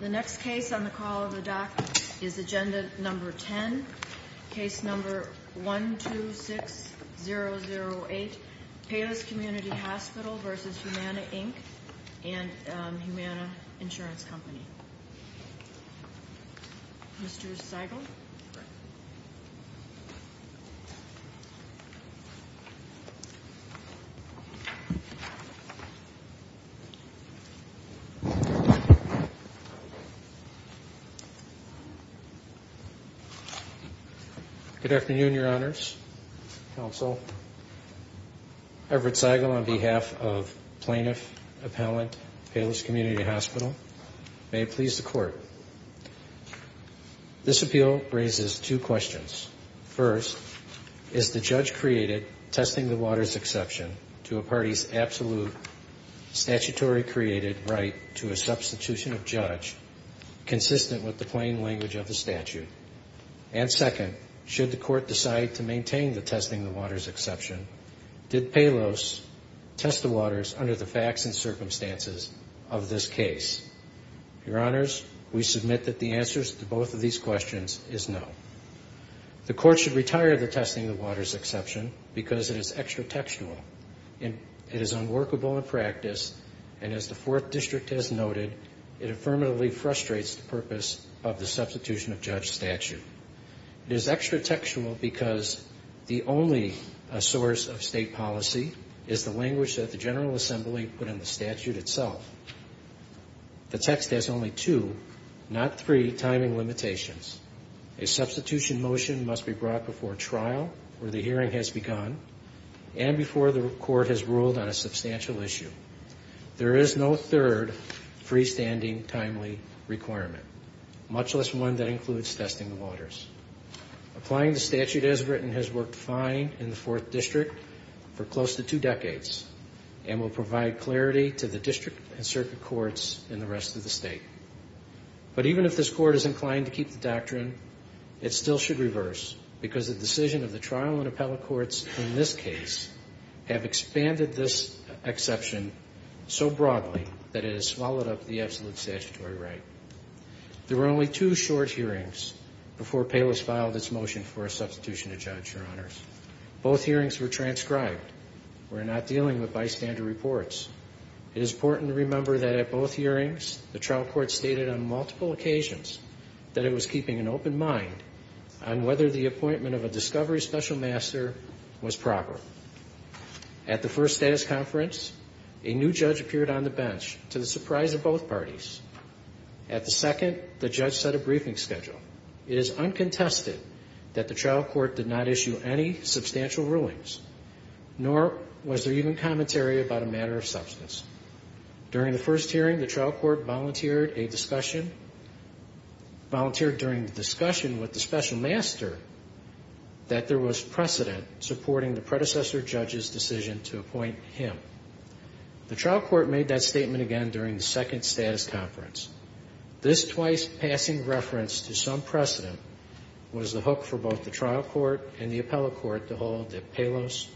The next case on the call of the dock is Agenda No. 10, Case No. 126008, Palos Community Hospital v. Humana, Inc. and Humana Insurance Company. Mr. Seigel. Good afternoon, Your Honors, Counsel. Everett Seigel on behalf of Plaintiff Appellant, Palos Community Hospital. May it please the Court. This appeal raises two questions. First, is the judge created testing the waters exception to a party's absolute statutory created right to a substitution of judge consistent with the plain language of the statute? And second, should the Court decide to maintain the testing the waters exception, did Palos test the waters under the facts and circumstances of this case? Your Honors, we submit that the answer to both of these questions is no. The Court should retire the testing the waters exception because it is extra textual. It is unworkable in practice, and as the Fourth District has noted, it affirmatively frustrates the purpose of the substitution of judge statute. It is extra textual because the only source of state policy is the language that the General Assembly put in the statute itself. The text has only two, not three, timing limitations. A substitution motion must be brought before trial, where the hearing has begun, and before the Court has ruled on a substantial issue. There is no third, freestanding, timely requirement, much less one that includes testing the waters. Applying the statute as written has worked fine in the Fourth District for close to two decades, and will provide clarity to the district and circuit courts in the rest of the state. But even if this Court is inclined to keep the doctrine, it still should reverse because the decision of the trial and appellate courts in this case have expanded this exception so broadly that it has swallowed up the absolute statutory right. There were only two short hearings before Payless filed its motion for a substitution of judge, Your Honors. Both hearings were transcribed. We're not dealing with bystander reports. It is important to remember that at both hearings, the trial court stated on multiple occasions that it was keeping an open mind on whether the appointment of a discovery special master was proper. At the first status conference, a new judge appeared on the bench, to the surprise of both parties. At the second, the judge set a briefing schedule. It is uncontested that the trial court did not issue any substantial rulings, nor was there even commentary about a matter of substance. During the first hearing, the trial court volunteered a discussion, volunteered during the discussion with the special master that there was precedent supporting the predecessor judge's decision to appoint him. The trial court made that statement again during the second status conference. This twice-passing reference to some precedent was the hook for both the trial court and the appellate court to hold that Payless,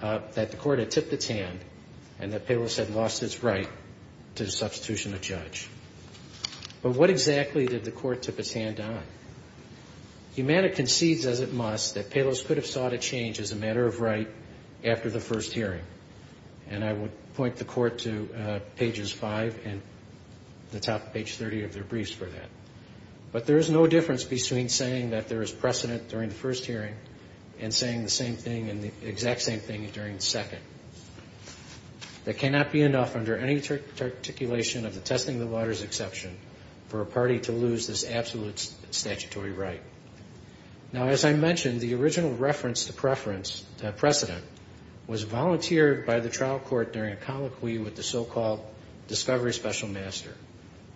that the court had tipped its hand and that Payless had lost its right to substitution of judge. But what exactly did the court tip its hand on? Humana concedes as it must that Payless could have sought a change as a matter of right after the first hearing. And I would point the court to pages 5 and the top of page 30 of their briefs for that. But there is no difference between saying that there is precedent during the first hearing and saying the same thing and the exact same thing during the second. There cannot be enough under any articulation of the testing of the waters exception for a party to lose this absolute statutory right. Now, as I mentioned, the original reference to precedent was volunteered by the trial court during a colloquy with the so-called discovery special master,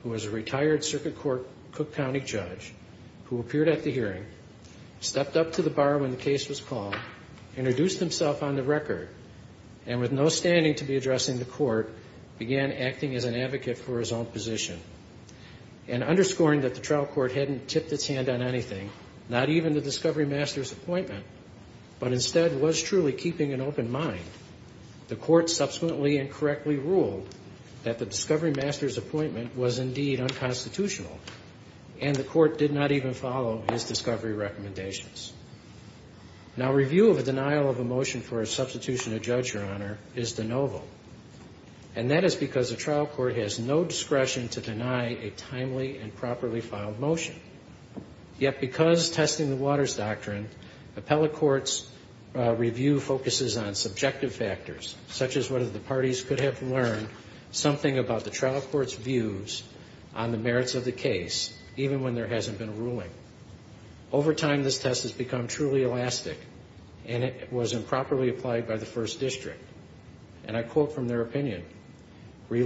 who was a retired circuit court Cook County judge, who appeared at the hearing, stepped up to the bar when the case was called, introduced himself on the record, and with no standing to be addressing the court, began acting as an advocate for his own position and underscoring that the trial court hadn't tipped its hand on anything. Not even the discovery master's appointment, but instead was truly keeping an open mind. The court subsequently incorrectly ruled that the discovery master's appointment was indeed unconstitutional, and the court did not even follow his discovery recommendations. Now, review of a denial of a motion for a substitution of judge, Your Honor, is de novo. And that is because the trial court has no discretion to deny a timely and properly filed motion. Yet, because testing the waters doctrine, appellate court's review focuses on subjective factors, such as whether the parties could have learned something about the trial court's views on the merits of the case, even when there hasn't been a ruling. Over time, this test has become truly elastic, and it was improperly applied by the first district. And I quote from their opinion, There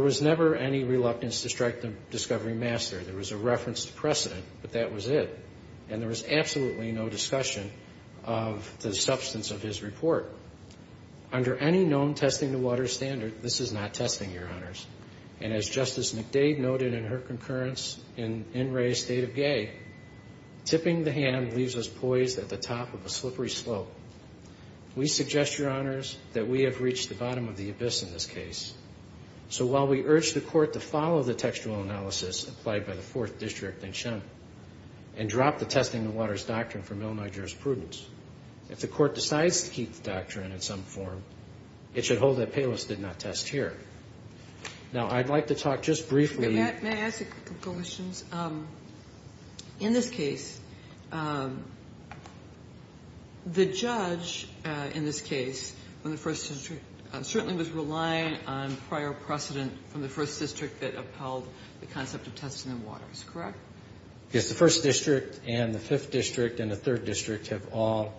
was never any reluctance to strike the discovery master. There was a reference to precedent, but that was it. And there was absolutely no discussion of the substance of his report. Under any known testing the waters standard, this is not testing, Your Honors. And as Justice McDade noted in her concurrence in In Re State of Gay, tipping the hand leaves us poised at the top of a slippery slope. We suggest, Your Honors, that we have reached the bottom of the abyss in this case. So while we urge the court to follow the textual analysis applied by the fourth district in Shem, and drop the testing the waters doctrine from Illinois jurisprudence, if the court decides to keep the doctrine in some form, it should hold that Palos did not test here. Now, I'd like to talk just briefly. In this case, the judge in this case from the first district certainly was relying on prior precedent from the first district that upheld the concept of testing the waters, correct? Yes, the first district and the fifth district and the third district have all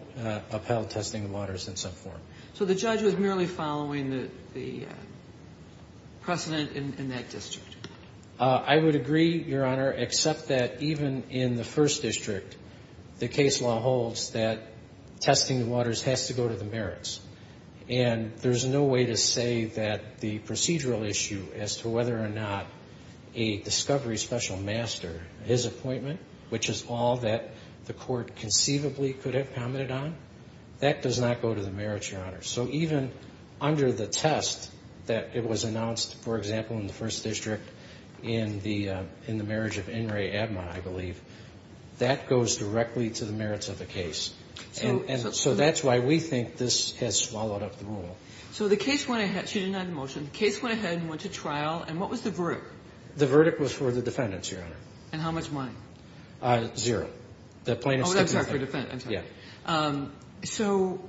upheld testing the waters in some form. So the judge was merely following the precedent in that district? I would agree, Your Honor, except that even in the first district, the case law holds that testing the waters has to go to the merits. And there's no way to say that the procedural issue as to whether or not a discovery special master, his appointment, which is all that the court conceivably could have commented on, that does not go to the merits, Your Honor. So even under the test that it was announced, for example, in the first district in the marriage of Enri Admon, I believe, that goes directly to the merits of the case. And so that's why we think this has swallowed up the rule. So the case went ahead. She denied the motion. The case went ahead and went to trial. And what was the verdict? The verdict was for the defendants, Your Honor. And how much money? Zero. Oh, I'm sorry, for defendants. Yeah. So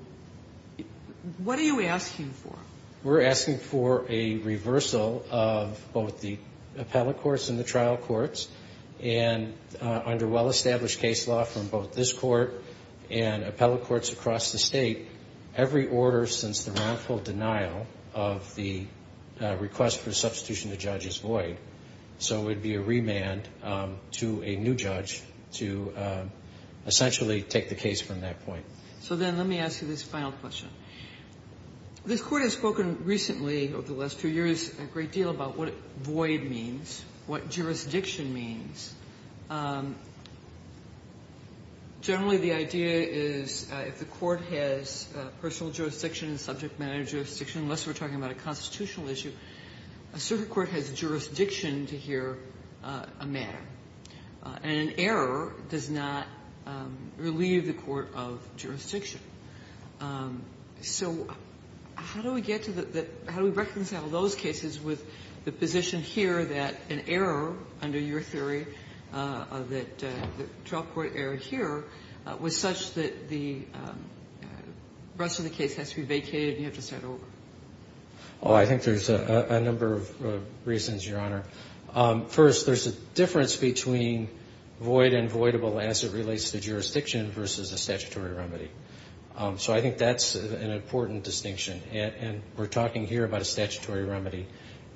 what are you asking for? We're asking for a reversal of both the appellate courts and the trial courts. And under well-established case law from both this court and appellate courts across the state, every order since the wrongful denial of the request for substitution to judge is void. So it would be a remand to a new judge to essentially take the case from that point. So then let me ask you this final question. This Court has spoken recently over the last few years a great deal about what void means, what jurisdiction means. Generally, the idea is if the Court has personal jurisdiction, subject matter jurisdiction, unless we're talking about a constitutional issue, a circuit court has jurisdiction to hear a matter, and an error does not relieve the court of jurisdiction. So how do we get to the – how do we reconcile those cases with the position here that an error, under your theory, that the trial court error here was such that the rest of the case has to be vacated and you have to start over? Oh, I think there's a number of reasons, Your Honor. First, there's a difference between void and voidable as it relates to jurisdiction versus a statutory remedy. So I think that's an important distinction, and we're talking here about a statutory remedy.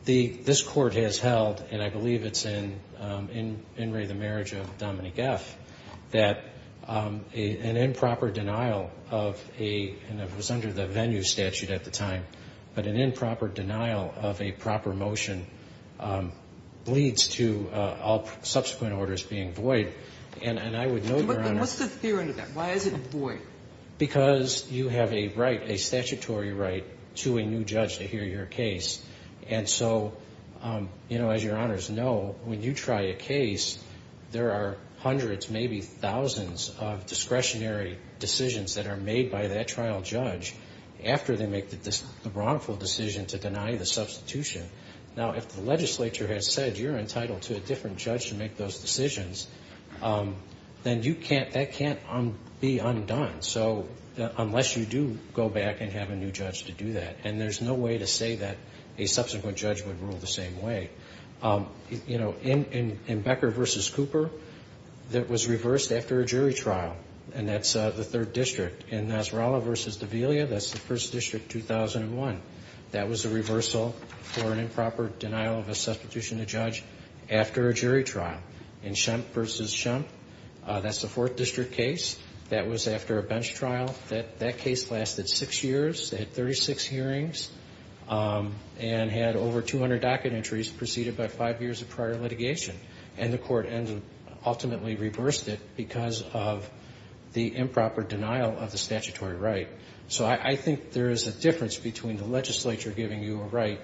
This Court has held, and I believe it's in In Re, the Marriage of Dominique F., that an improper denial of a – and it was under the venue statute at the time, but an improper denial of a proper motion leads to all subsequent orders being void. And I would note, Your Honor – What's the theory to that? Why is it void? Because you have a right, a statutory right, to a new judge to hear your case. And so, you know, as Your Honors know, when you try a case, there are hundreds, maybe thousands, of discretionary decisions that are made by that trial judge after they make the wrongful decision to deny the substitution. Now, if the legislature has said you're entitled to a different judge to make those decisions, then you can't – that can't be undone, so – unless you do go back and have a new judge to do that. And there's no way to say that a subsequent judge would rule the same way. You know, in Becker v. Cooper, it was reversed after a jury trial, and that's the Third District. In Nasrallah v. D'Avelia, that's the First District, 2001. That was a reversal for an improper denial of a substitution to judge after a jury trial. In Shump v. Shump, that's the Fourth District case. That was after a bench trial. That case lasted six years. It had 36 hearings and had over 200 docket entries preceded by five years of prior litigation. And the court ultimately reversed it because of the improper denial of the statutory right. So I think there is a difference between the legislature giving you a right,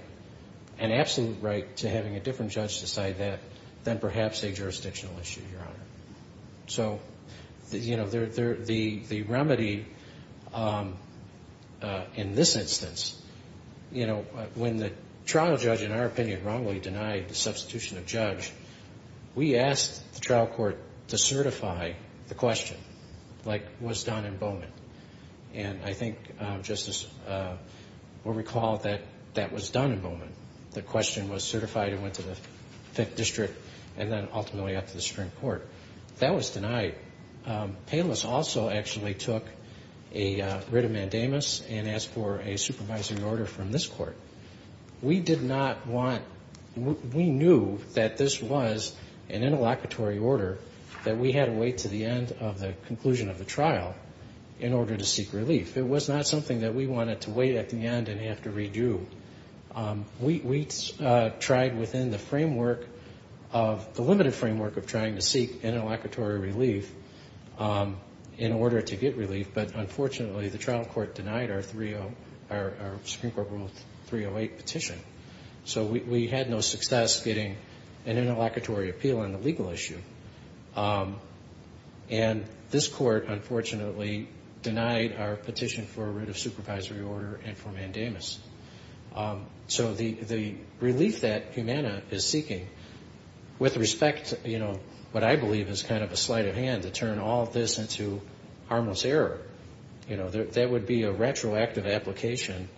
to having a different judge decide that, than perhaps a jurisdictional issue, Your Honor. So, you know, the remedy in this instance, you know, when the trial judge, in our opinion, wrongly denied the substitution of judge, we asked the trial court to certify the question, like was done in Bowman. And I think, Justice, we'll recall that that was done in Bowman. The question was certified and went to the Fifth District and then ultimately up to the Supreme Court. That was denied. Payless also actually took a writ of mandamus and asked for a supervisory order from this court. We did not want to – we knew that this was an interlocutory order, that we had to wait to the end of the conclusion of the trial in order to seek relief. It was not something that we wanted to wait at the end and have to redo. We tried within the framework of – the limited framework of trying to seek interlocutory relief in order to get relief. But, unfortunately, the trial court denied our Supreme Court Rule 308 petition. So we had no success getting an interlocutory appeal on the legal issue. And this court, unfortunately, denied our petition for a writ of supervisory order and for mandamus. So the relief that Humana is seeking, with respect to, you know, what I believe is kind of a sleight of hand to turn all this into harmless error, you know, that would be a retroactive application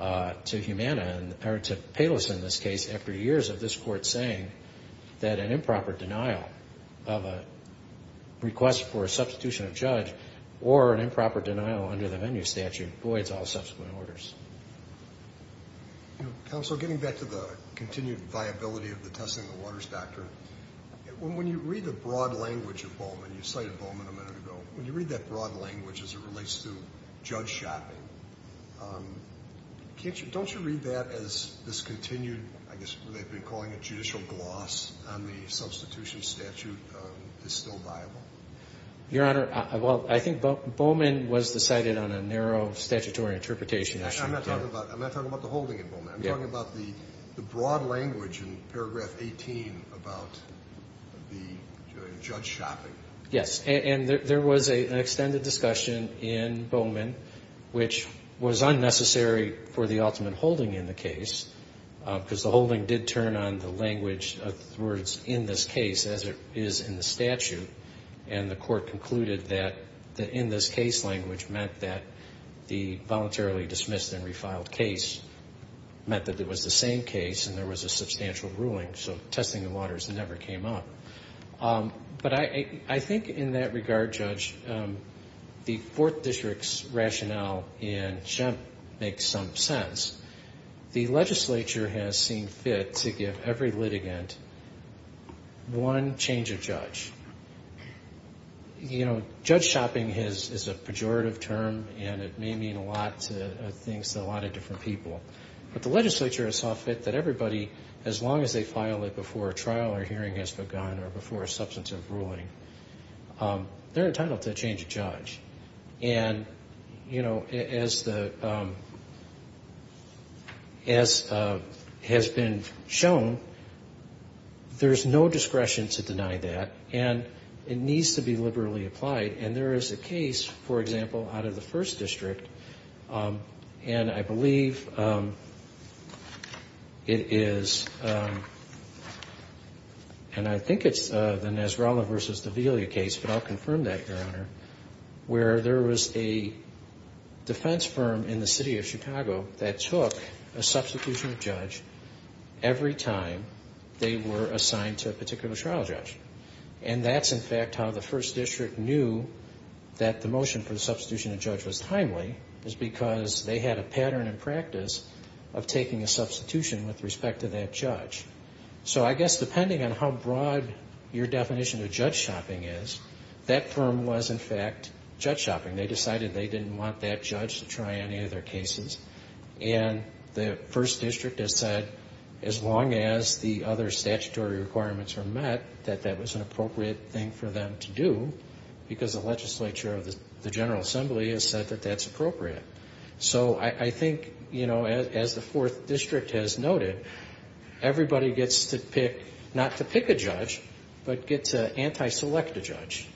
to Humana, or to Palos in this case, after years of this court saying that an improper denial of a request for a substitution of judge or an improper denial under the venue statute voids all subsequent orders. Counsel, getting back to the continued viability of the testing of waters doctrine, when you read the broad language of Bowman – you cited Bowman a minute ago – when you read that broad language as it relates to judge shopping, don't you read that as this continued, I guess they've been calling it judicial gloss, on the substitution statute is still viable? Your Honor, well, I think Bowman was decided on a narrow statutory interpretation. I'm not talking about the holding at Bowman. I'm talking about the broad language in paragraph 18 about the judge shopping. Yes, and there was an extended discussion in Bowman which was unnecessary for the ultimate holding in the case because the holding did turn on the language of the words in this case as it is in the statute, and the court concluded that the in this case language meant that the voluntarily dismissed and refiled case meant that it was the same case and there was a substantial ruling, so testing of waters never came up. But I think in that regard, Judge, the Fourth District's rationale in Shemp makes some sense. The legislature has seen fit to give every litigant one change of judge. You know, judge shopping is a pejorative term and it may mean a lot of things to a lot of different people, but the legislature saw fit that everybody, as long as they file it before a trial or hearing has begun or before a substantive ruling, they're entitled to a change of judge. And, you know, as the as has been shown, there's no discretion to deny that, and it needs to be liberally applied, and there is a case, for example, out of the First District, and I believe it is, and I think it's the Nasrallah v. Davila case, but I'll confirm that, Your Honor, where there was a defense firm in the city of Chicago that took a substitution of judge every time they were assigned to a particular trial judge. And that's, in fact, how the First District knew that the motion for the substitution of judge was timely, is because they had a pattern and practice of taking a substitution with respect to that judge. So I guess depending on how broad your definition of judge shopping is, that firm was, in fact, judge shopping. They decided they didn't want that judge to try any of their cases, and the First District has said, as long as the other statutory requirements are met, that that was an appropriate thing for them to do, because the legislature of the General Assembly has said that that's appropriate. So I think, you know, as the Fourth District has noted, everybody gets to pick not to pick a judge, but gets to anti-select a judge.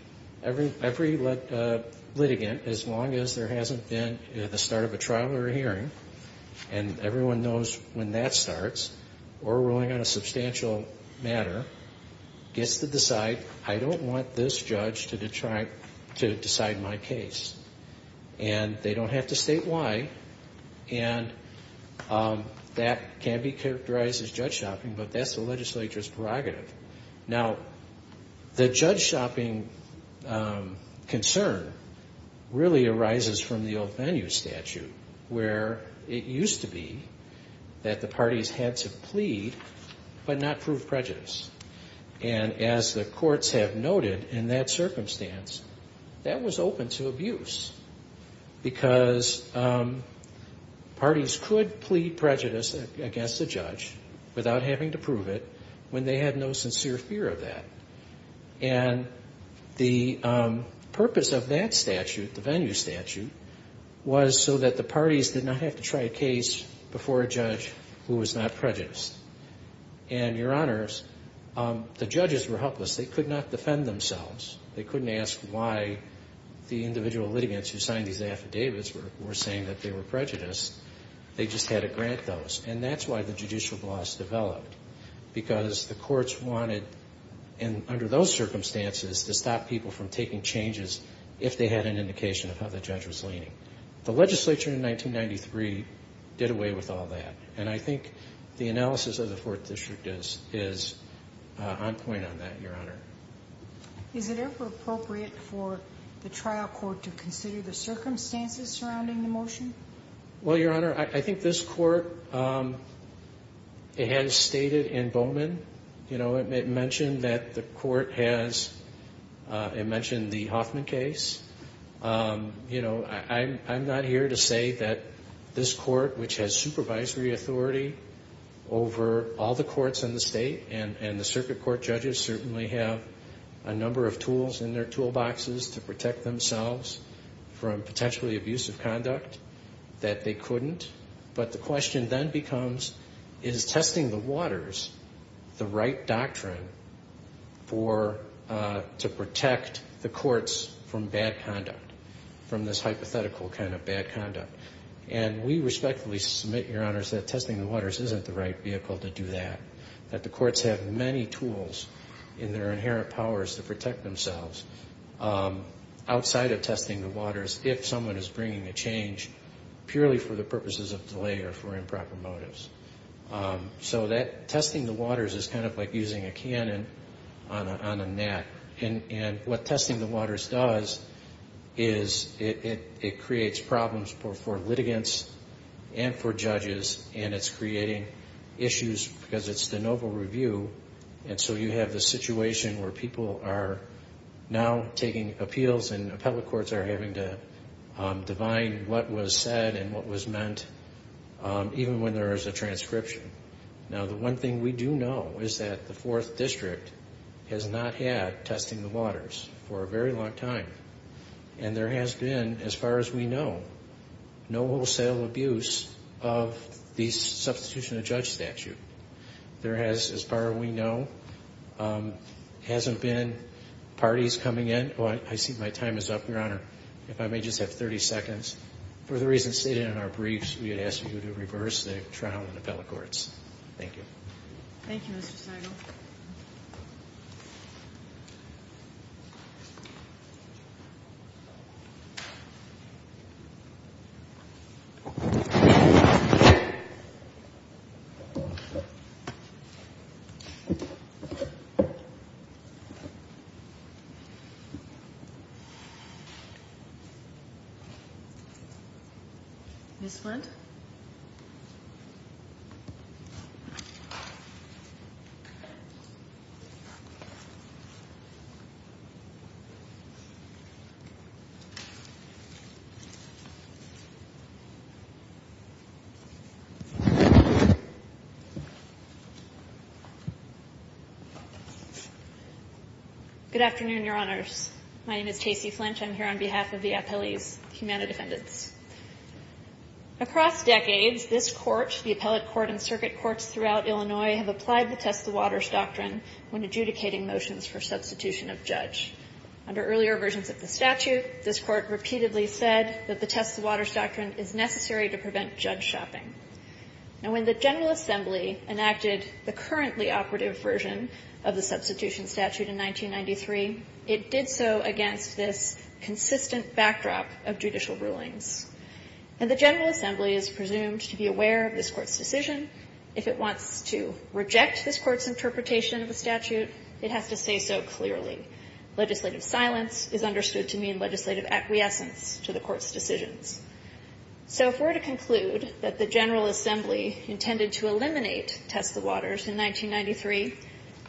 Every litigant, as long as there hasn't been the start of a trial or a hearing, and everyone knows when that starts, or ruling on a substantial matter, gets to decide, I don't want this judge to decide my case. And they don't have to state why. And that can be characterized as judge shopping, but that's the legislature's prerogative. Now, the judge shopping concern really arises from the old venue statute, where it used to be that the parties had to plead, but not prove prejudice. And as the courts have noted in that circumstance, that was open to abuse, because parties could plead prejudice against a judge without having to prove it, when they had no sincere fear of that. And the purpose of that statute, the venue statute, was so that the parties did not have to try a case before a judge who was not prejudiced. And, Your Honors, the judges were helpless. They could not defend themselves. They couldn't ask why the individual litigants who signed these affidavits were saying that they were prejudiced. They just had to grant those. And that's why the judicial gloss developed, because the courts wanted, under those circumstances, to stop people from taking changes if they had an indication of how the judge was leaning. The legislature in 1993 did away with all that. And I think the analysis of the Fourth District is on point on that, Your Honor. Is it ever appropriate for the trial court to consider the circumstances surrounding the motion? Well, Your Honor, I think this court, it has stated in Bowman, you know, it mentioned that the court has, it mentioned the Hoffman case. You know, I'm not here to say that this court, which has supervisory authority over all the courts in the state, and the circuit court judges certainly have a number of tools in their toolboxes to protect themselves from potentially abusive conduct that they couldn't. But the question then becomes, is testing the waters the right doctrine to protect the courts from bad conduct, from this hypothetical kind of bad conduct? And we respectfully submit, Your Honors, that testing the waters isn't the right vehicle to do that, that the courts have many tools in their inherent powers to protect themselves. Outside of testing the waters, if someone is bringing a change purely for the purposes of delay or for improper motives. So that testing the waters is kind of like using a cannon on a net. And what testing the waters does is it creates problems for litigants and for judges, and it's creating issues because it's the noble review. And so you have the situation where people are now taking appeals and appellate courts are having to divine what was said and what was meant, even when there is a transcription. Now, the one thing we do know is that the Fourth District has not had testing the waters for a very long time. And there has been, as far as we know, no wholesale abuse of the substitution of judge statute. There has, as far as we know, hasn't been parties coming in. I see my time is up, Your Honor. If I may just have 30 seconds. For the reasons stated in our briefs, we had asked you to reverse the trial in appellate courts. Thank you. Thank you, Mr. Seigel. Thank you. Ms. Flint? Good afternoon, Your Honors. My name is Tacey Flint. I'm here on behalf of the Appellees Humana Defendants. Across decades, this court, the appellate court and circuit courts throughout Illinois, have applied the test the waters doctrine when adjudicating motions for substitution of judge. Under earlier versions of the statute, this court repeatedly said that the test the waters doctrine is necessary to prevent judge shopping. Now, when the General Assembly enacted the currently operative version of the substitution statute in 1993, it did so against this consistent backdrop of judicial rulings. And the General Assembly is presumed to be aware of this court's decision. If it wants to reject this court's interpretation of the statute, it has to say so clearly. Legislative silence is understood to mean legislative acquiescence to the court's decisions. So if we're to conclude that the General Assembly intended to eliminate test the waters in 1993,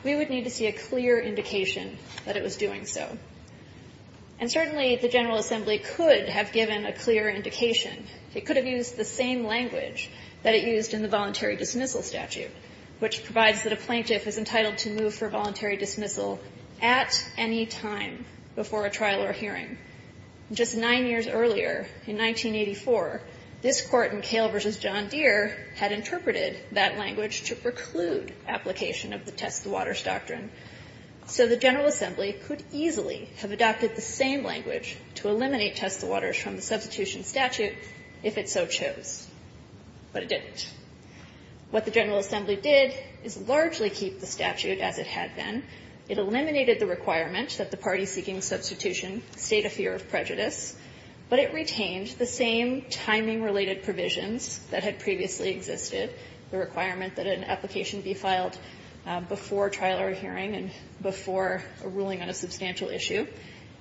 we would need to see a clear indication that it was doing so. And certainly, the General Assembly could have given a clear indication. It could have used the same language that it used in the voluntary dismissal statute, which provides that a plaintiff is entitled to move for voluntary dismissal at any time before a trial or hearing. Just nine years earlier, in 1984, this court in Kale v. John Deere had interpreted that language to preclude application of the test the waters doctrine. So the General Assembly could easily have adopted the same language to eliminate test the waters from the substitution statute if it so chose. But it didn't. What the General Assembly did is largely keep the statute as it had been. It eliminated the requirement that the party seeking substitution state a fear of prejudice. But it retained the same timing-related provisions that had previously existed, the requirement that an application be filed before trial or hearing and before a ruling on a substantial issue.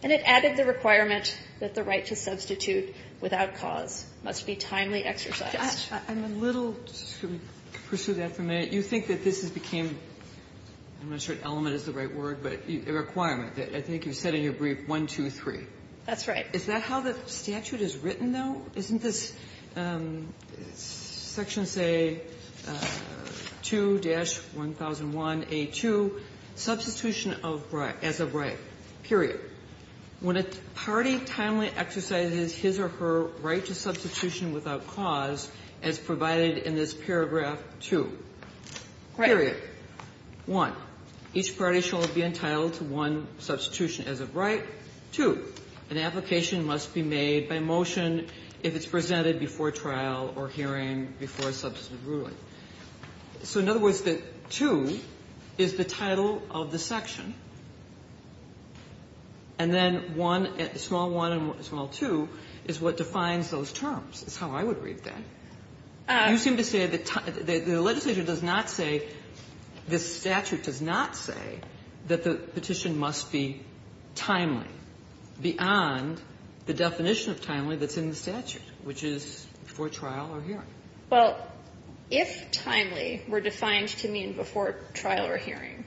And it added the requirement that the right to substitute without cause must be timely exercised. Sotomayor, I'm a little to pursue that for a minute. You think that this has became, I'm not sure if element is the right word, but a requirement. I think you said in your brief 1, 2, 3. That's right. Is that how the statute is written, though? Isn't this section say 2-1001a2, substitution of right, as of right, period. When a party timely exercises his or her right to substitution without cause as provided in this paragraph 2, period. One, each party shall be entitled to one substitution as of right. Two, an application must be made by motion if it's presented before trial or hearing before a substantive ruling. So in other words, the 2 is the title of the section. And then 1, small 1 and small 2 is what defines those terms, is how I would read that. You seem to say that the legislature does not say, this statute does not say, that the petition must be timely beyond the definition of timely that's in the statute, which is before trial or hearing. Well, if timely were defined to mean before trial or hearing,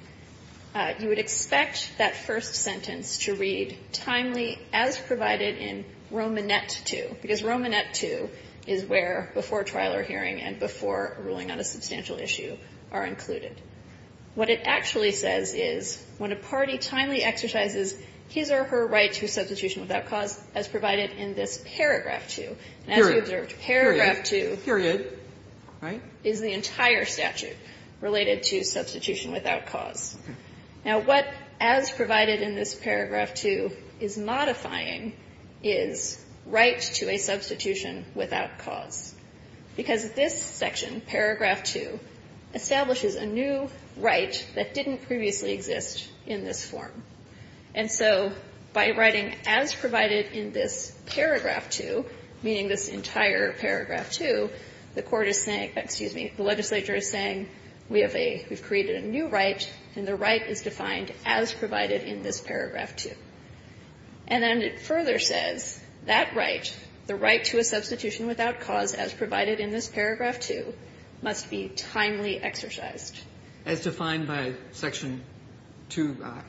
you would expect that first sentence to read timely as provided in Romanet 2, because Romanet 2 is where before trial or hearing and before ruling on a substantial issue are included. What it actually says is, when a party timely exercises his or her right to substitution without cause as provided in this paragraph 2, and as you observed, paragraph 2 is the entire statute related to substitution without cause. Now, what as provided in this paragraph 2 is modifying is right to a substitution without cause, because this section, paragraph 2, establishes a new right that didn't previously exist in this form. And so by writing as provided in this paragraph 2, meaning this entire paragraph 2, the court is saying, excuse me, the legislature is saying we have a, we've created a new right and the right is defined as provided in this paragraph 2. And then it further says, that right, the right to a substitution without cause as provided in this paragraph 2 must be timely exercised. As defined by section 2i.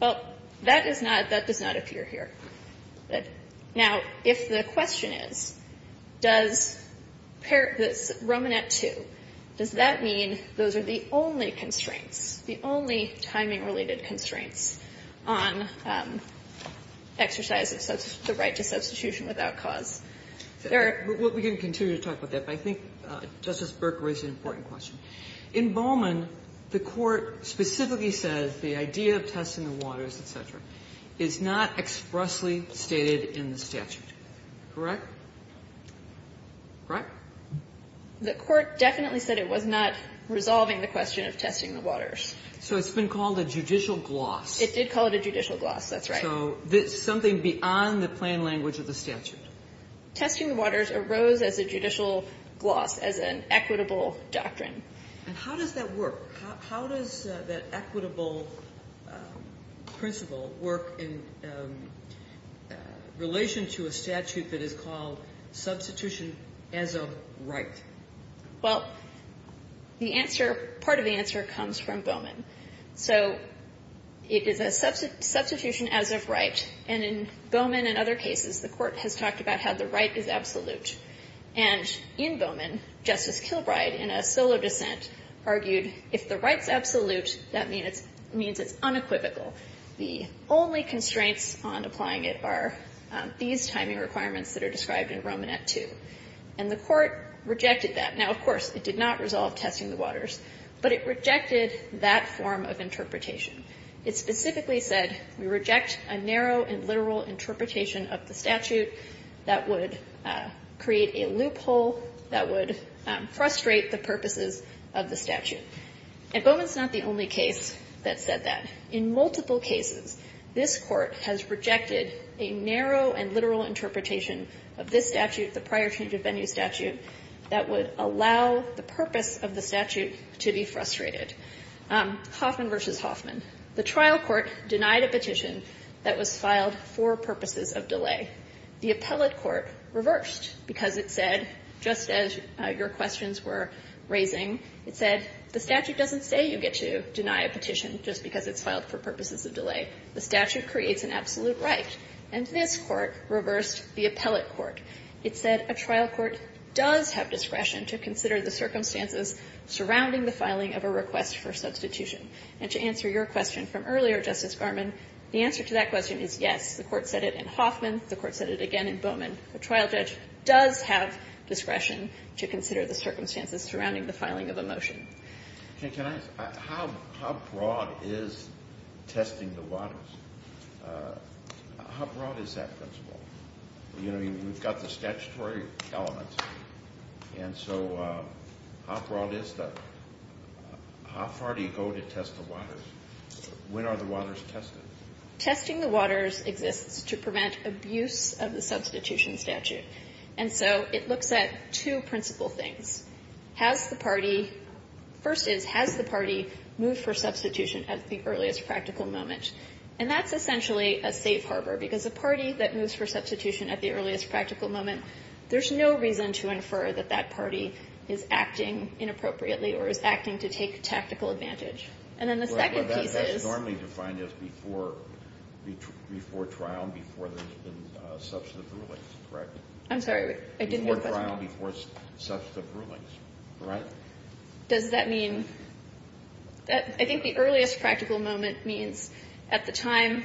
Well, that is not, that does not appear here. Now, if the question is, does Romanet 2, does that mean those are the only constraints, the only timing-related constraints on exercise of the right to substitution without cause? There are. We can continue to talk about that, but I think Justice Burke raised an important question. In Bowman, the court specifically says the idea of testing the waters, et cetera, is not expressly stated in the statute. Correct? Correct? The court definitely said it was not resolving the question of testing the waters. So it's been called a judicial gloss. It did call it a judicial gloss. That's right. So something beyond the plain language of the statute. Testing the waters arose as a judicial gloss, as an equitable doctrine. And how does that work? How does that equitable principle work in relation to a statute that is called substitution as of right? Well, the answer, part of the answer comes from Bowman. So it is a substitution as of right. And in Bowman and other cases, the court has talked about how the right is absolute. And in Bowman, Justice Kilbride, in a solo dissent, argued if the right's absolute, that means it's unequivocal. The only constraints on applying it are these timing requirements that are described in Romanet II. And the court rejected that. Now, of course, it did not resolve testing the waters, but it rejected that form of interpretation. It specifically said, we reject a narrow and literal interpretation of the statute that would create a loophole, that would frustrate the purposes of the statute. And Bowman's not the only case that said that. In multiple cases, this court has rejected a narrow and literal interpretation of this statute, the prior change of venue statute, that would allow the purpose of the statute to be frustrated. Hoffman v. Hoffman. The trial court denied a petition that was filed for purposes of delay. The appellate court reversed, because it said, just as your questions were raising, it said, the statute doesn't say you get to deny a petition just because it's filed for purposes of delay. The statute creates an absolute right. And this court reversed the appellate court. It said a trial court does have discretion to consider the circumstances surrounding the filing of a request for substitution. And to answer your question from earlier, Justice Garmon, the answer to that question is yes. The court said it in Hoffman. The court said it again in Bowman. A trial judge does have discretion to consider the circumstances surrounding the filing of a motion. Can I ask, how broad is testing the waters? How broad is that principle? You know, we've got the statutory elements. And so how broad is that? How far do you go to test the waters? When are the waters tested? Testing the waters exists to prevent abuse of the substitution statute. And so it looks at two principal things. Has the party, first is, has the party moved for substitution at the earliest practical moment? And that's essentially a safe harbor, because a party that moves for substitution at the earliest practical moment, there's no reason to infer that that party is acting inappropriately or is acting to take tactical advantage. And then the second piece is- That's normally defined as before trial, before there's been substantive rulings, correct? I'm sorry, I didn't hear the question. Before trial, before substantive rulings, correct? Does that mean, I think the earliest practical moment means at the time,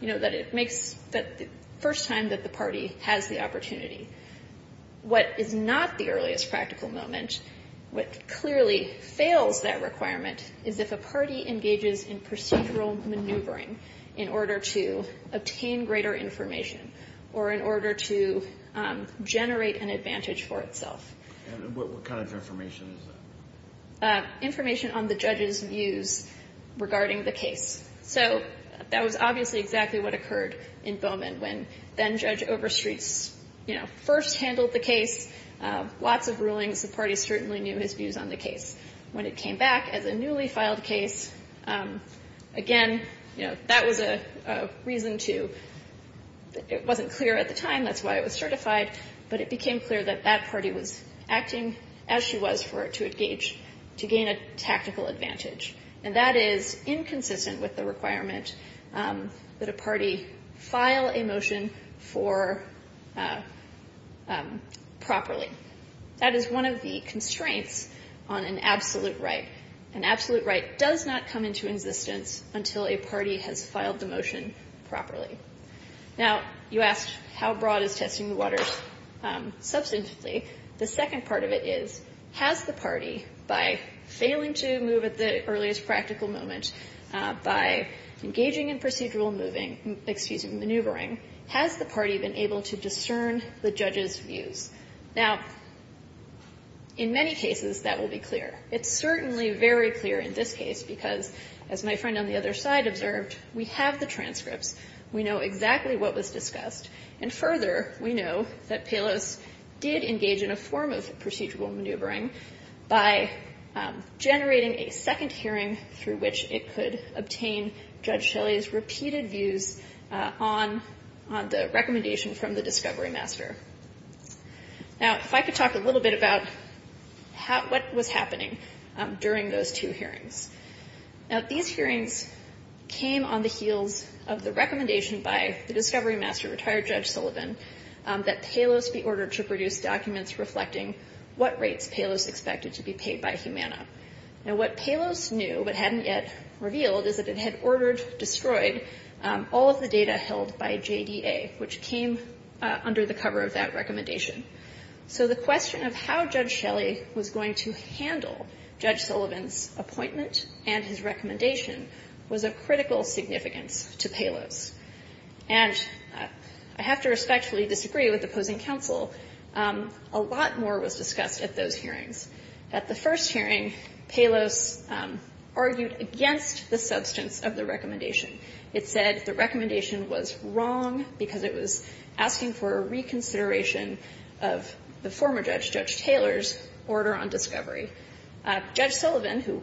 you know, that it makes, the first time that the party has the opportunity. What is not the earliest practical moment, what clearly fails that requirement, is if a party engages in procedural maneuvering in order to obtain greater information or in order to generate an advantage for itself. And what kind of information is that? Information on the judge's views regarding the case. So that was obviously exactly what occurred in Bowman when then-judge Overstreet, you know, first handled the case. Lots of rulings, the party certainly knew his views on the case. When it came back as a newly filed case, again, you know, that was a reason to, it wasn't clear at the time, that's why it was certified. But it became clear that that party was acting as she was for it to engage, to gain a tactical advantage. And that is inconsistent with the requirement that a party file a motion for properly. That is one of the constraints on an absolute right. An absolute right does not come into existence until a party has filed the motion properly. Now, you asked how broad is testing the waters? Substantively, the second part of it is, has the party, by failing to move at the earliest practical moment, by engaging in procedural moving, excuse me, maneuvering, has the party been able to discern the judge's views? Now, in many cases, that will be clear. It's certainly very clear in this case because, as my friend on the other side observed, we have the transcripts. We know exactly what was discussed. And further, we know that Pelos did engage in a form of procedural maneuvering by generating a second hearing through which it could obtain Judge Shelley's repeated views on the recommendation from the discovery master. Now, if I could talk a little bit about what was happening during those two hearings. Now, these hearings came on the heels of the recommendation by the discovery master, retired Judge Sullivan, that Pelos be ordered to produce documents reflecting what rates Pelos expected to be paid by Humana. Now, what Pelos knew, but hadn't yet revealed, is that it had ordered, destroyed all of the data held by JDA, which came under the cover of that recommendation. So the question of how Judge Shelley was going to handle Judge Sullivan's appointment and his recommendation was of critical significance to Pelos. And I have to respectfully disagree with opposing counsel. A lot more was discussed at those hearings. At the first hearing, Pelos argued against the substance of the recommendation. It said the recommendation was wrong because it was asking for a reconsideration of the former judge, Judge Taylor's, order on discovery. Judge Sullivan, who,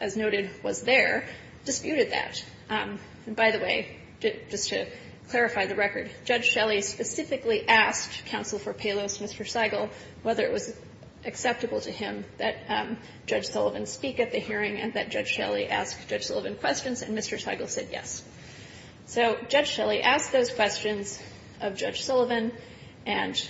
as noted, was there, disputed that. And by the way, just to clarify the record, Judge Shelley specifically asked counsel for Pelos, Mr. Seigel, whether it was acceptable to him that Judge Sullivan speak at the hearing and that Judge Shelley ask Judge Sullivan questions, and Mr. Seigel said yes. So Judge Shelley asked those questions of Judge Sullivan, and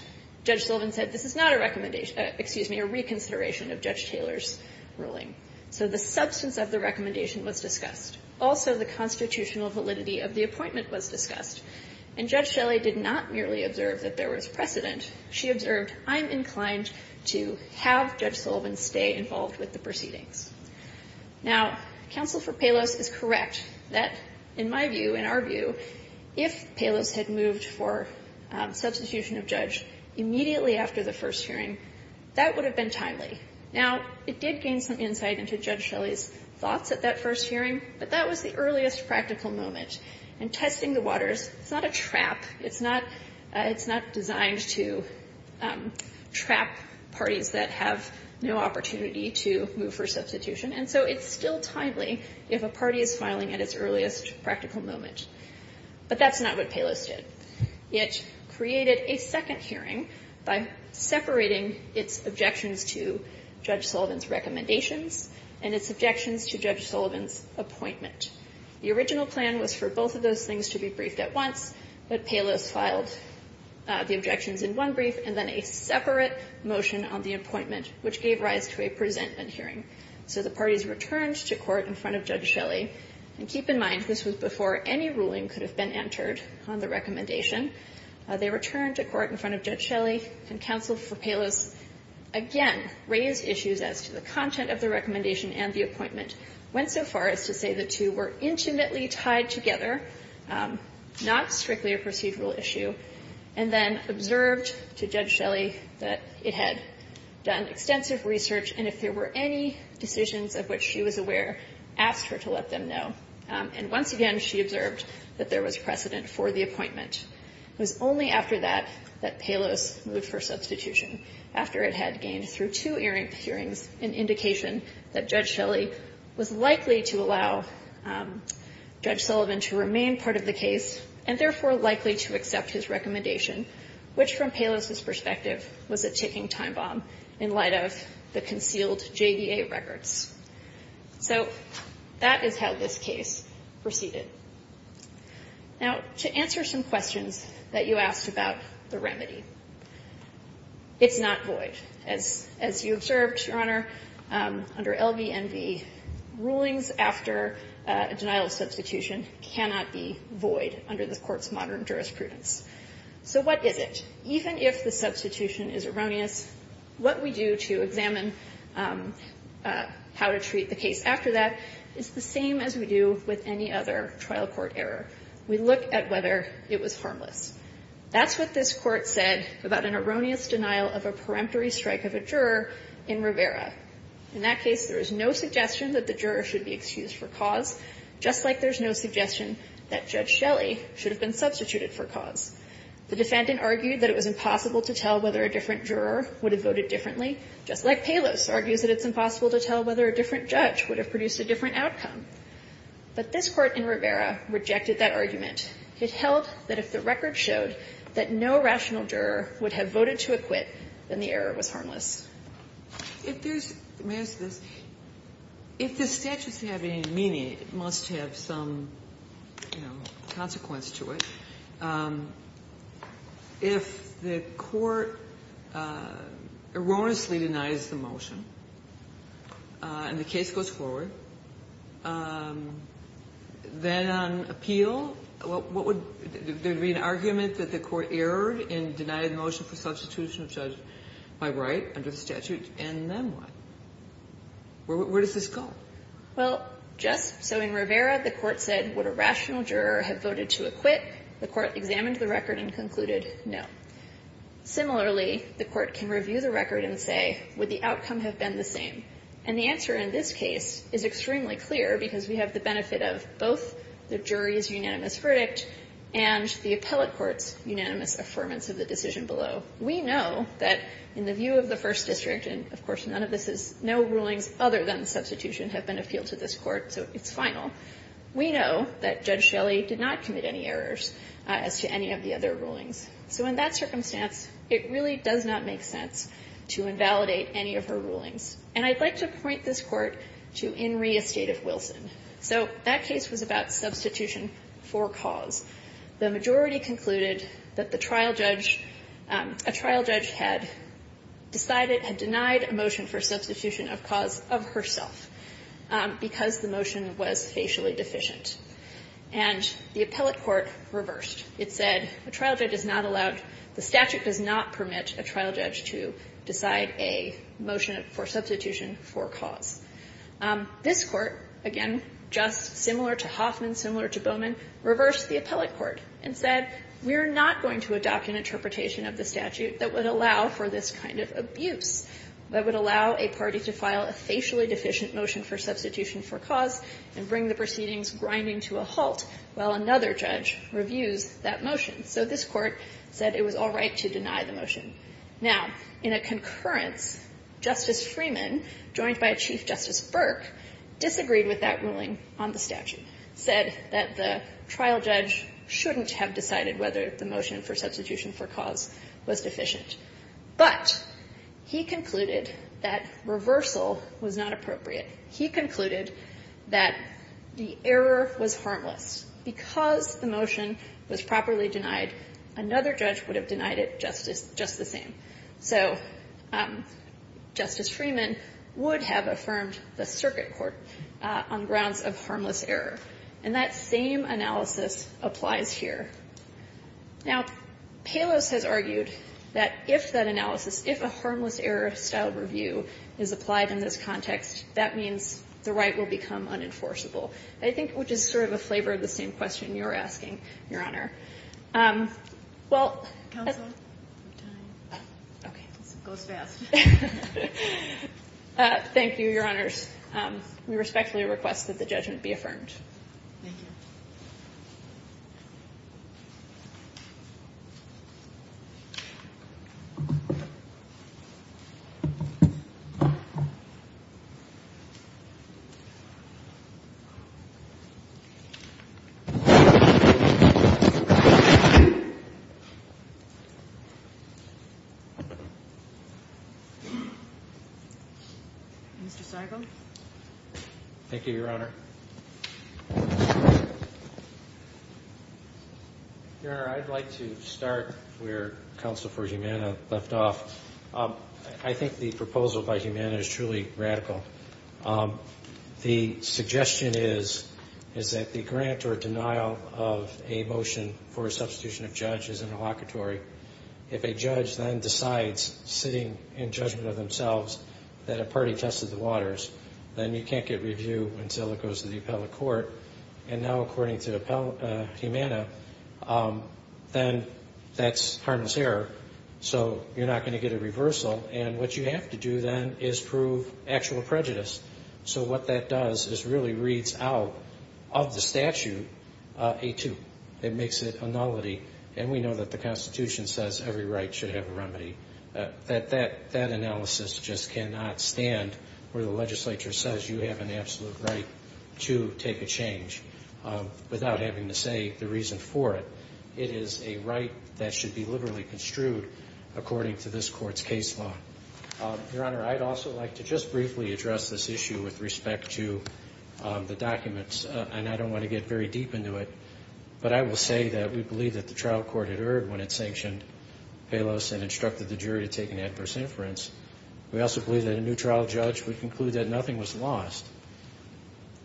Judge Sullivan said, this is not a recommendation, excuse me, a reconsideration of Judge Taylor's ruling. So the substance of the recommendation was discussed. Also, the constitutional validity of the appointment was discussed. And Judge Shelley did not merely observe that there was precedent. She observed, I'm inclined to have Judge Sullivan stay involved with the proceedings. Now, counsel for Pelos is correct that, in my view, in our view, if Pelos had moved for substitution of judge immediately after the first hearing, that would have been timely. Now, it did gain some insight into Judge Shelley's thoughts at that first hearing, but that was the earliest practical moment. And testing the waters, it's not a trap. It's not designed to trap parties that have no opportunity to move for substitution. And so it's still timely if a party is filing at its earliest practical moment. But that's not what Pelos did. It created a second hearing by separating its objections to Judge Sullivan's recommendations and its objections to Judge Sullivan's appointment. The original plan was for both of those things to be briefed at once, but Pelos filed the objections in one brief and then a separate motion on the appointment, which gave rise to a presentment hearing. So the parties returned to court in front of Judge Shelley. And keep in mind, this was before any ruling could have been entered on the recommendation. They returned to court in front of Judge Shelley, and counsel for Pelos, again, raised issues as to the content of the recommendation and the appointment, went so far as to say the two were intimately tied together, not strictly a procedural issue, and then observed to Judge Shelley that it had done extensive research, and if there were any decisions of which she was aware, asked her to let them know. And once again, she observed that there was precedent for the appointment. It was only after that that Pelos moved for substitution, after it had gained through two hearings an indication that Judge Shelley was likely to allow Judge Sullivan to remain part of the case, and therefore likely to accept his recommendation, which from Pelos's perspective was a ticking time bomb in light of the concealed JDA records. So that is how this case proceeded. Now, to answer some questions that you asked about the remedy. It's not void. As you observed, Your Honor, under LVNV, rulings after a denial of substitution cannot be void under the Court's modern jurisprudence. So what is it? Even if the substitution is erroneous, what we do to examine how to treat the case after that is the same as we do with any other trial court error. We look at whether it was harmless. That's what this Court said about an erroneous denial of a peremptory strike of a juror in Rivera. In that case, there is no suggestion that the juror should be excused for cause, just like there's no suggestion that Judge Shelley should have been substituted for cause. The defendant argued that it was impossible to tell whether a different juror would have voted differently, just like Pelos argues that it's impossible to tell whether a different judge would have produced a different outcome. But this Court in Rivera rejected that argument. It held that if the record showed that no rational juror would have voted to acquit, then the error was harmless. If there's the majority of this, if the statutes have any meaning, it must have some, you know, consequence to it. If the Court erroneously denies the motion and the case goes forward, then on appeal, what would be an argument that the Court erred in denying the motion for substitution of judge by right under the statute, and then what? Where does this go? Well, just so in Rivera, the Court said, would a rational juror have voted to acquit? The Court examined the record and concluded no. Similarly, the Court can review the record and say, would the outcome have been the same? And the answer in this case is extremely clear, because we have the benefit of both the jury's unanimous verdict and the appellate court's unanimous affirmance of the decision below. We know that in the view of the First District, and of course, none of this is, no rulings other than substitution have been appealed to this Court, so it's final. We know that Judge Shelley did not commit any errors as to any of the other rulings. So in that circumstance, it really does not make sense to invalidate any of her rulings. And I'd like to point this Court to Inree Estative-Wilson. So that case was about substitution for cause. The majority concluded that the trial judge, a trial judge had decided, had denied a motion for substitution of cause of herself because the motion was facially deficient. And the appellate court reversed. It said, a trial judge is not allowed, the statute does not permit a trial judge to decide a motion for substitution for cause. This court, again, just similar to Hoffman, similar to Bowman, reversed the appellate court and said, we're not going to adopt an interpretation of the statute that would allow for this kind of abuse. That would allow a party to file a facially deficient motion for substitution for cause and bring the proceedings grinding to a halt while another judge reviews that motion. So this court said it was all right to deny the motion. Now, in a concurrence, Justice Freeman, joined by Chief Justice Burke, disagreed with that ruling on the statute. Said that the trial judge shouldn't have decided whether the motion for substitution for cause was deficient. But he concluded that reversal was not appropriate. He concluded that the error was harmless. Because the motion was properly denied, another judge would have denied it just the same. So Justice Freeman would have affirmed the circuit court on grounds of harmless error. And that same analysis applies here. Now, Palos has argued that if that analysis, if a harmless error style review is applied in this context, that means the right will become unenforceable. I think, which is sort of a flavor of the same question you're asking, Your Honor. Well- Counsel? Okay. Goes fast. Thank you, Your Honors. We respectfully request that the judgment be affirmed. Thank you. Mr. Seigel? Thank you, Your Honor. Your Honor, I'd like to start where counsel for Humana left off. I think the proposal by Humana is truly radical. The suggestion is, is that the grant or denial of a motion for substitution of judge is an evocatory. If a judge then decides, sitting in judgment of themselves, that a party tested the waters, then you can't get review until it goes to the appellate court. And now, according to Humana, then that's harmless error. So you're not going to get a reversal. And what you have to do then is prove actual prejudice. So what that does is really reads out of the statute a two. It makes it a nullity. That analysis just cannot stand where the legislature says you have an absolute right to take a change without having to say the reason for it. It is a right that should be liberally construed according to this court's case law. Your Honor, I'd also like to just briefly address this issue with respect to the documents. And I don't want to get very deep into it. But I will say that we believe that the trial court had erred when it sanctioned Palos and instructed the jury to take an adverse inference. We also believe that a new trial judge would conclude that nothing was lost.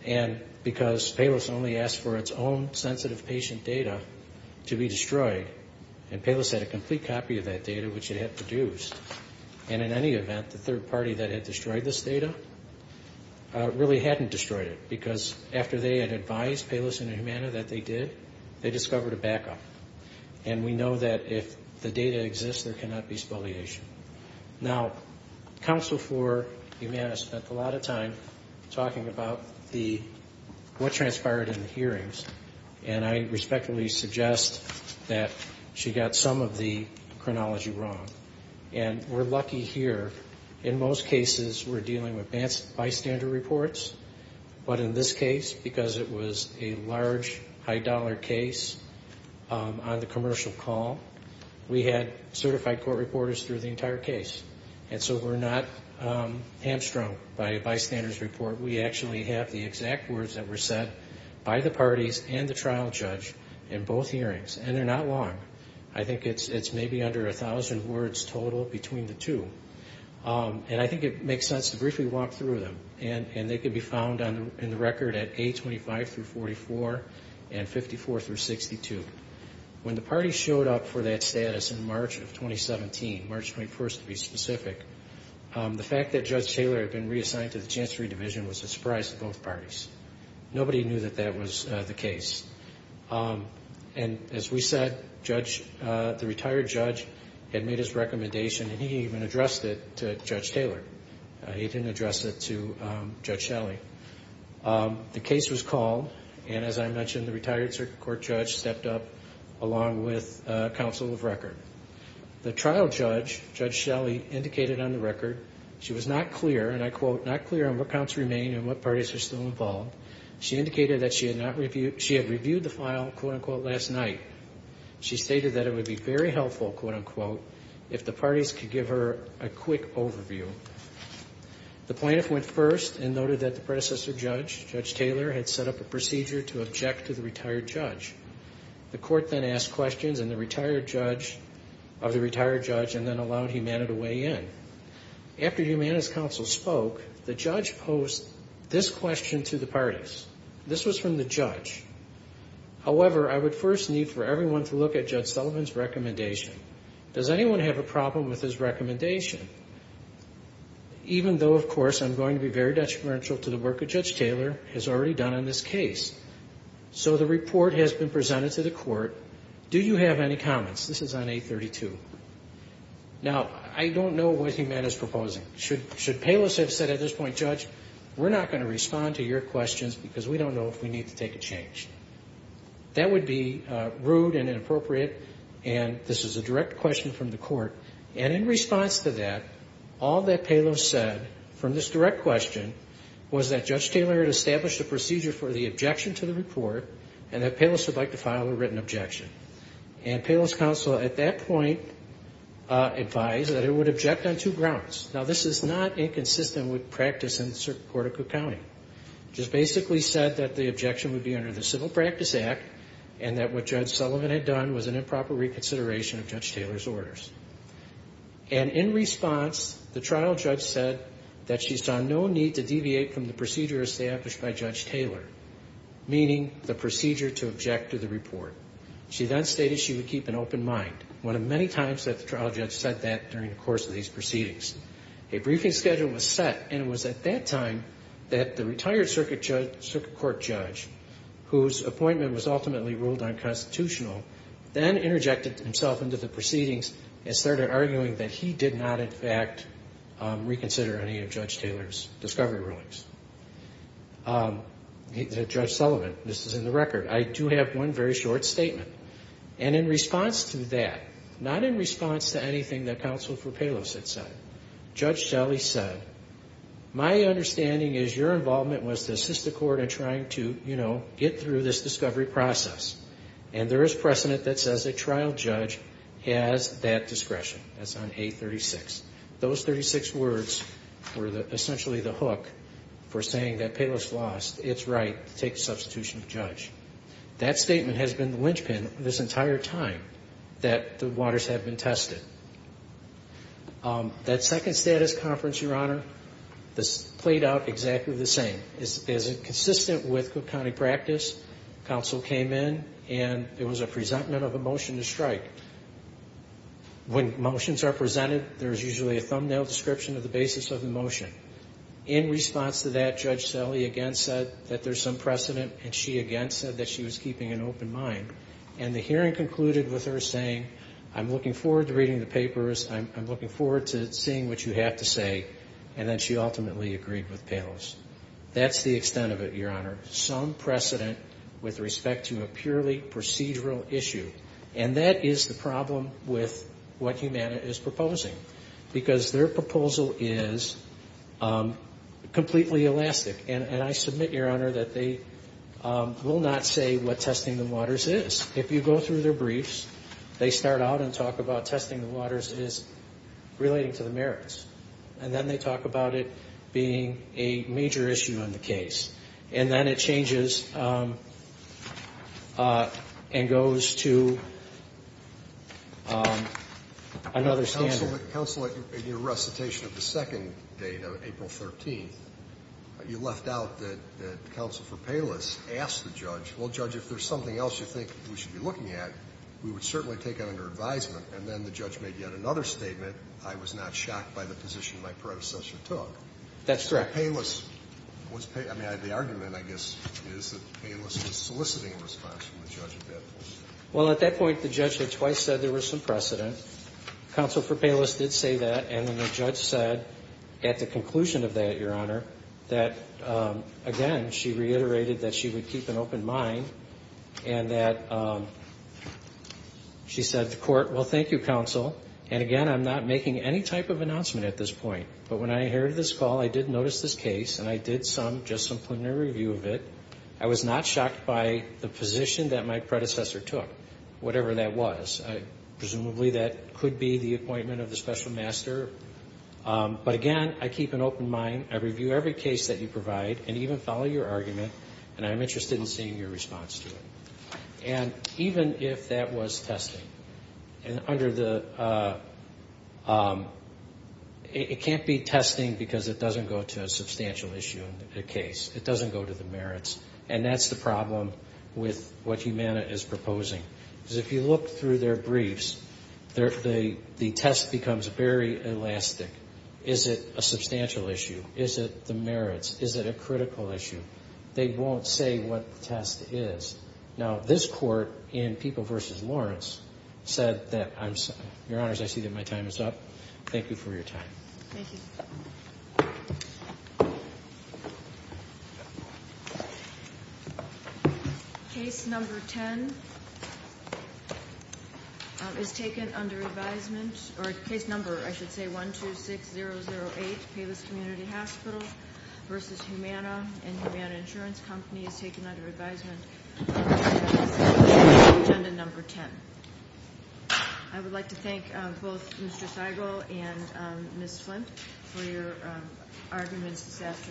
And because Palos only asked for its own sensitive patient data to be destroyed. And Palos had a complete copy of that data, which it had produced. And in any event, the third party that had destroyed this data really hadn't destroyed it. Because after they had advised Palos and Humana that they did, they discovered a backup. And we know that if the data exists, there cannot be spoliation. Now, counsel for Humana spent a lot of time talking about what transpired in the hearings. And I respectfully suggest that she got some of the chronology wrong. And we're lucky here. In most cases, we're dealing with bystander reports. But in this case, because it was a large, high-dollar case on the commercial call, we had certified court reporters through the entire case. And so we're not hamstrung by a bystander's report. We actually have the exact words that were said by the parties and the trial judge in both hearings. And they're not long. I think it's maybe under 1,000 words total between the two. And I think it makes sense to briefly walk through them. And they can be found in the record at A25-44 and 54-62. When the parties showed up for that status in March of 2017, March 21st to be specific, the fact that Judge Taylor had been reassigned to the Chancery Division was a surprise to both parties. Nobody knew that that was the case. And as we said, the retired judge had made his recommendation, and he even addressed it to Judge Taylor. He didn't address it to Judge Shelley. The case was called, and as I mentioned, the retired circuit court judge stepped up along with counsel of record. The trial judge, Judge Shelley, indicated on the record she was not clear, and I quote, not clear on what counts remain and what parties are still involved. She indicated that she had reviewed the file, quote unquote, last night. She stated that it would be very helpful, quote unquote, if the parties could give her a quick overview. The plaintiff went first and noted that the predecessor judge, Judge Taylor, had set up a procedure to object to the retired judge. The court then asked questions of the retired judge and then allowed Humana to weigh in. After Humana's counsel spoke, the judge posed this question to the parties. This was from the judge. However, I would first need for everyone to look at Judge Sullivan's recommendation. Does anyone have a problem with his recommendation? Even though, of course, I'm going to be very detrimental to the work that Judge Taylor has already done on this case. So the report has been presented to the court. Do you have any comments? This is on 832. Now, I don't know what Humana's proposing. Should Palos have said at this point, Judge, we're not going to respond to your questions because we don't know if we need to take a change. That would be rude and inappropriate. And this is a direct question from the court. And in response to that, all that Palos said from this direct question was that Judge Taylor had established a procedure for the objection to the report and that Palos would like to file a written objection. And Palos's counsel at that point advised that it would object on two grounds. Now, this is not inconsistent with practice in the court of Cook County. Just basically said that the objection would be under the Civil Practice Act and that what Judge Sullivan had done was an improper reconsideration of Judge Taylor's orders. And in response, the trial judge said that she saw no need to deviate from the procedure established by Judge Taylor, meaning the procedure to object to the report. She then stated she would keep an open mind, one of many times that the trial judge said that during the course of these proceedings. A briefing schedule was set and it was at that time that the retired circuit court judge, whose appointment was ultimately ruled unconstitutional, then interjected himself into the proceedings and started arguing that he did not, in fact, reconsider any of Judge Taylor's discovery rulings. Judge Sullivan, this is in the record, I do have one very short statement. And in response to that, not in response to anything that counsel for Palos had said, Judge Shelley said, my understanding is your involvement was to assist the court in trying to, you know, get through this discovery process. And there is precedent that says a trial judge has that discretion. That's on A36. Those 36 words were essentially the hook for saying that Palos lost its right to take the substitution of judge. That statement has been the linchpin this entire time that the waters have been tested. That second status conference, Your Honor, this played out exactly the same. As consistent with Cook County practice, counsel came in and there was a presentment of a motion to strike. When motions are presented, there's usually a thumbnail description of the basis of the motion. In response to that, Judge Shelley again said that there's some precedent and she again said that she was keeping an open mind. And the hearing concluded with her saying, I'm looking forward to reading the papers. I'm looking forward to seeing what you have to say. And then she ultimately agreed with Palos. That's the extent of it, Your Honor. Some precedent with respect to a purely procedural issue. And that is the problem with what Humana is proposing. Because their proposal is completely elastic. And I submit, Your Honor, that they will not say what testing the waters is. If you go through their briefs, they start out and talk about testing the waters is relating to the merits. And then they talk about it being a major issue in the case. And then it changes and goes to another standard. Counsel, in your recitation of the second date, April 13th, you left out that Counsel for Palos asked the judge, well, Judge, if there's something else you think we should be looking at, we would certainly take it under advisement. And then the judge made yet another statement, I was not shocked by the position my predecessor took. That's correct. The argument, I guess, is that Palos was soliciting a response from the judge at that point. Well, at that point, the judge had twice said there was some precedent. Counsel for Palos did say that. And then the judge said, at the conclusion of that, Your Honor, that, again, she reiterated that she would keep an open mind. And that she said to court, well, thank you, Counsel. And again, I'm not making any type of announcement at this point. But when I heard this call, I did notice this case. And I did just some preliminary review of it. I was not shocked by the position that my predecessor took, whatever that was. Presumably, that could be the appointment of the special master. But again, I keep an open mind. I review every case that you provide and even follow your argument. And I'm interested in seeing your response to it. And even if that was testing, it can't be testing because it doesn't go to a substantial issue in the case. It doesn't go to the merits. And that's the problem with what Humana is proposing. Because if you look through their briefs, the test becomes very elastic. Is it a substantial issue? Is it the merits? Is it a critical issue? They won't say what the test is. Now, this court, in People v. Lawrence, said that I'm sorry. Your Honors, I see that my time is up. Thank you for your time. Thank you. Case number 10 is taken under advisement, or case number, I should say, 126008, Payless Community Hospital v. Humana and Humana Insurance Company is taken under advisement, agenda number 10. I would like to thank both Mr. Seigel and Ms. Flint for your arguments this afternoon.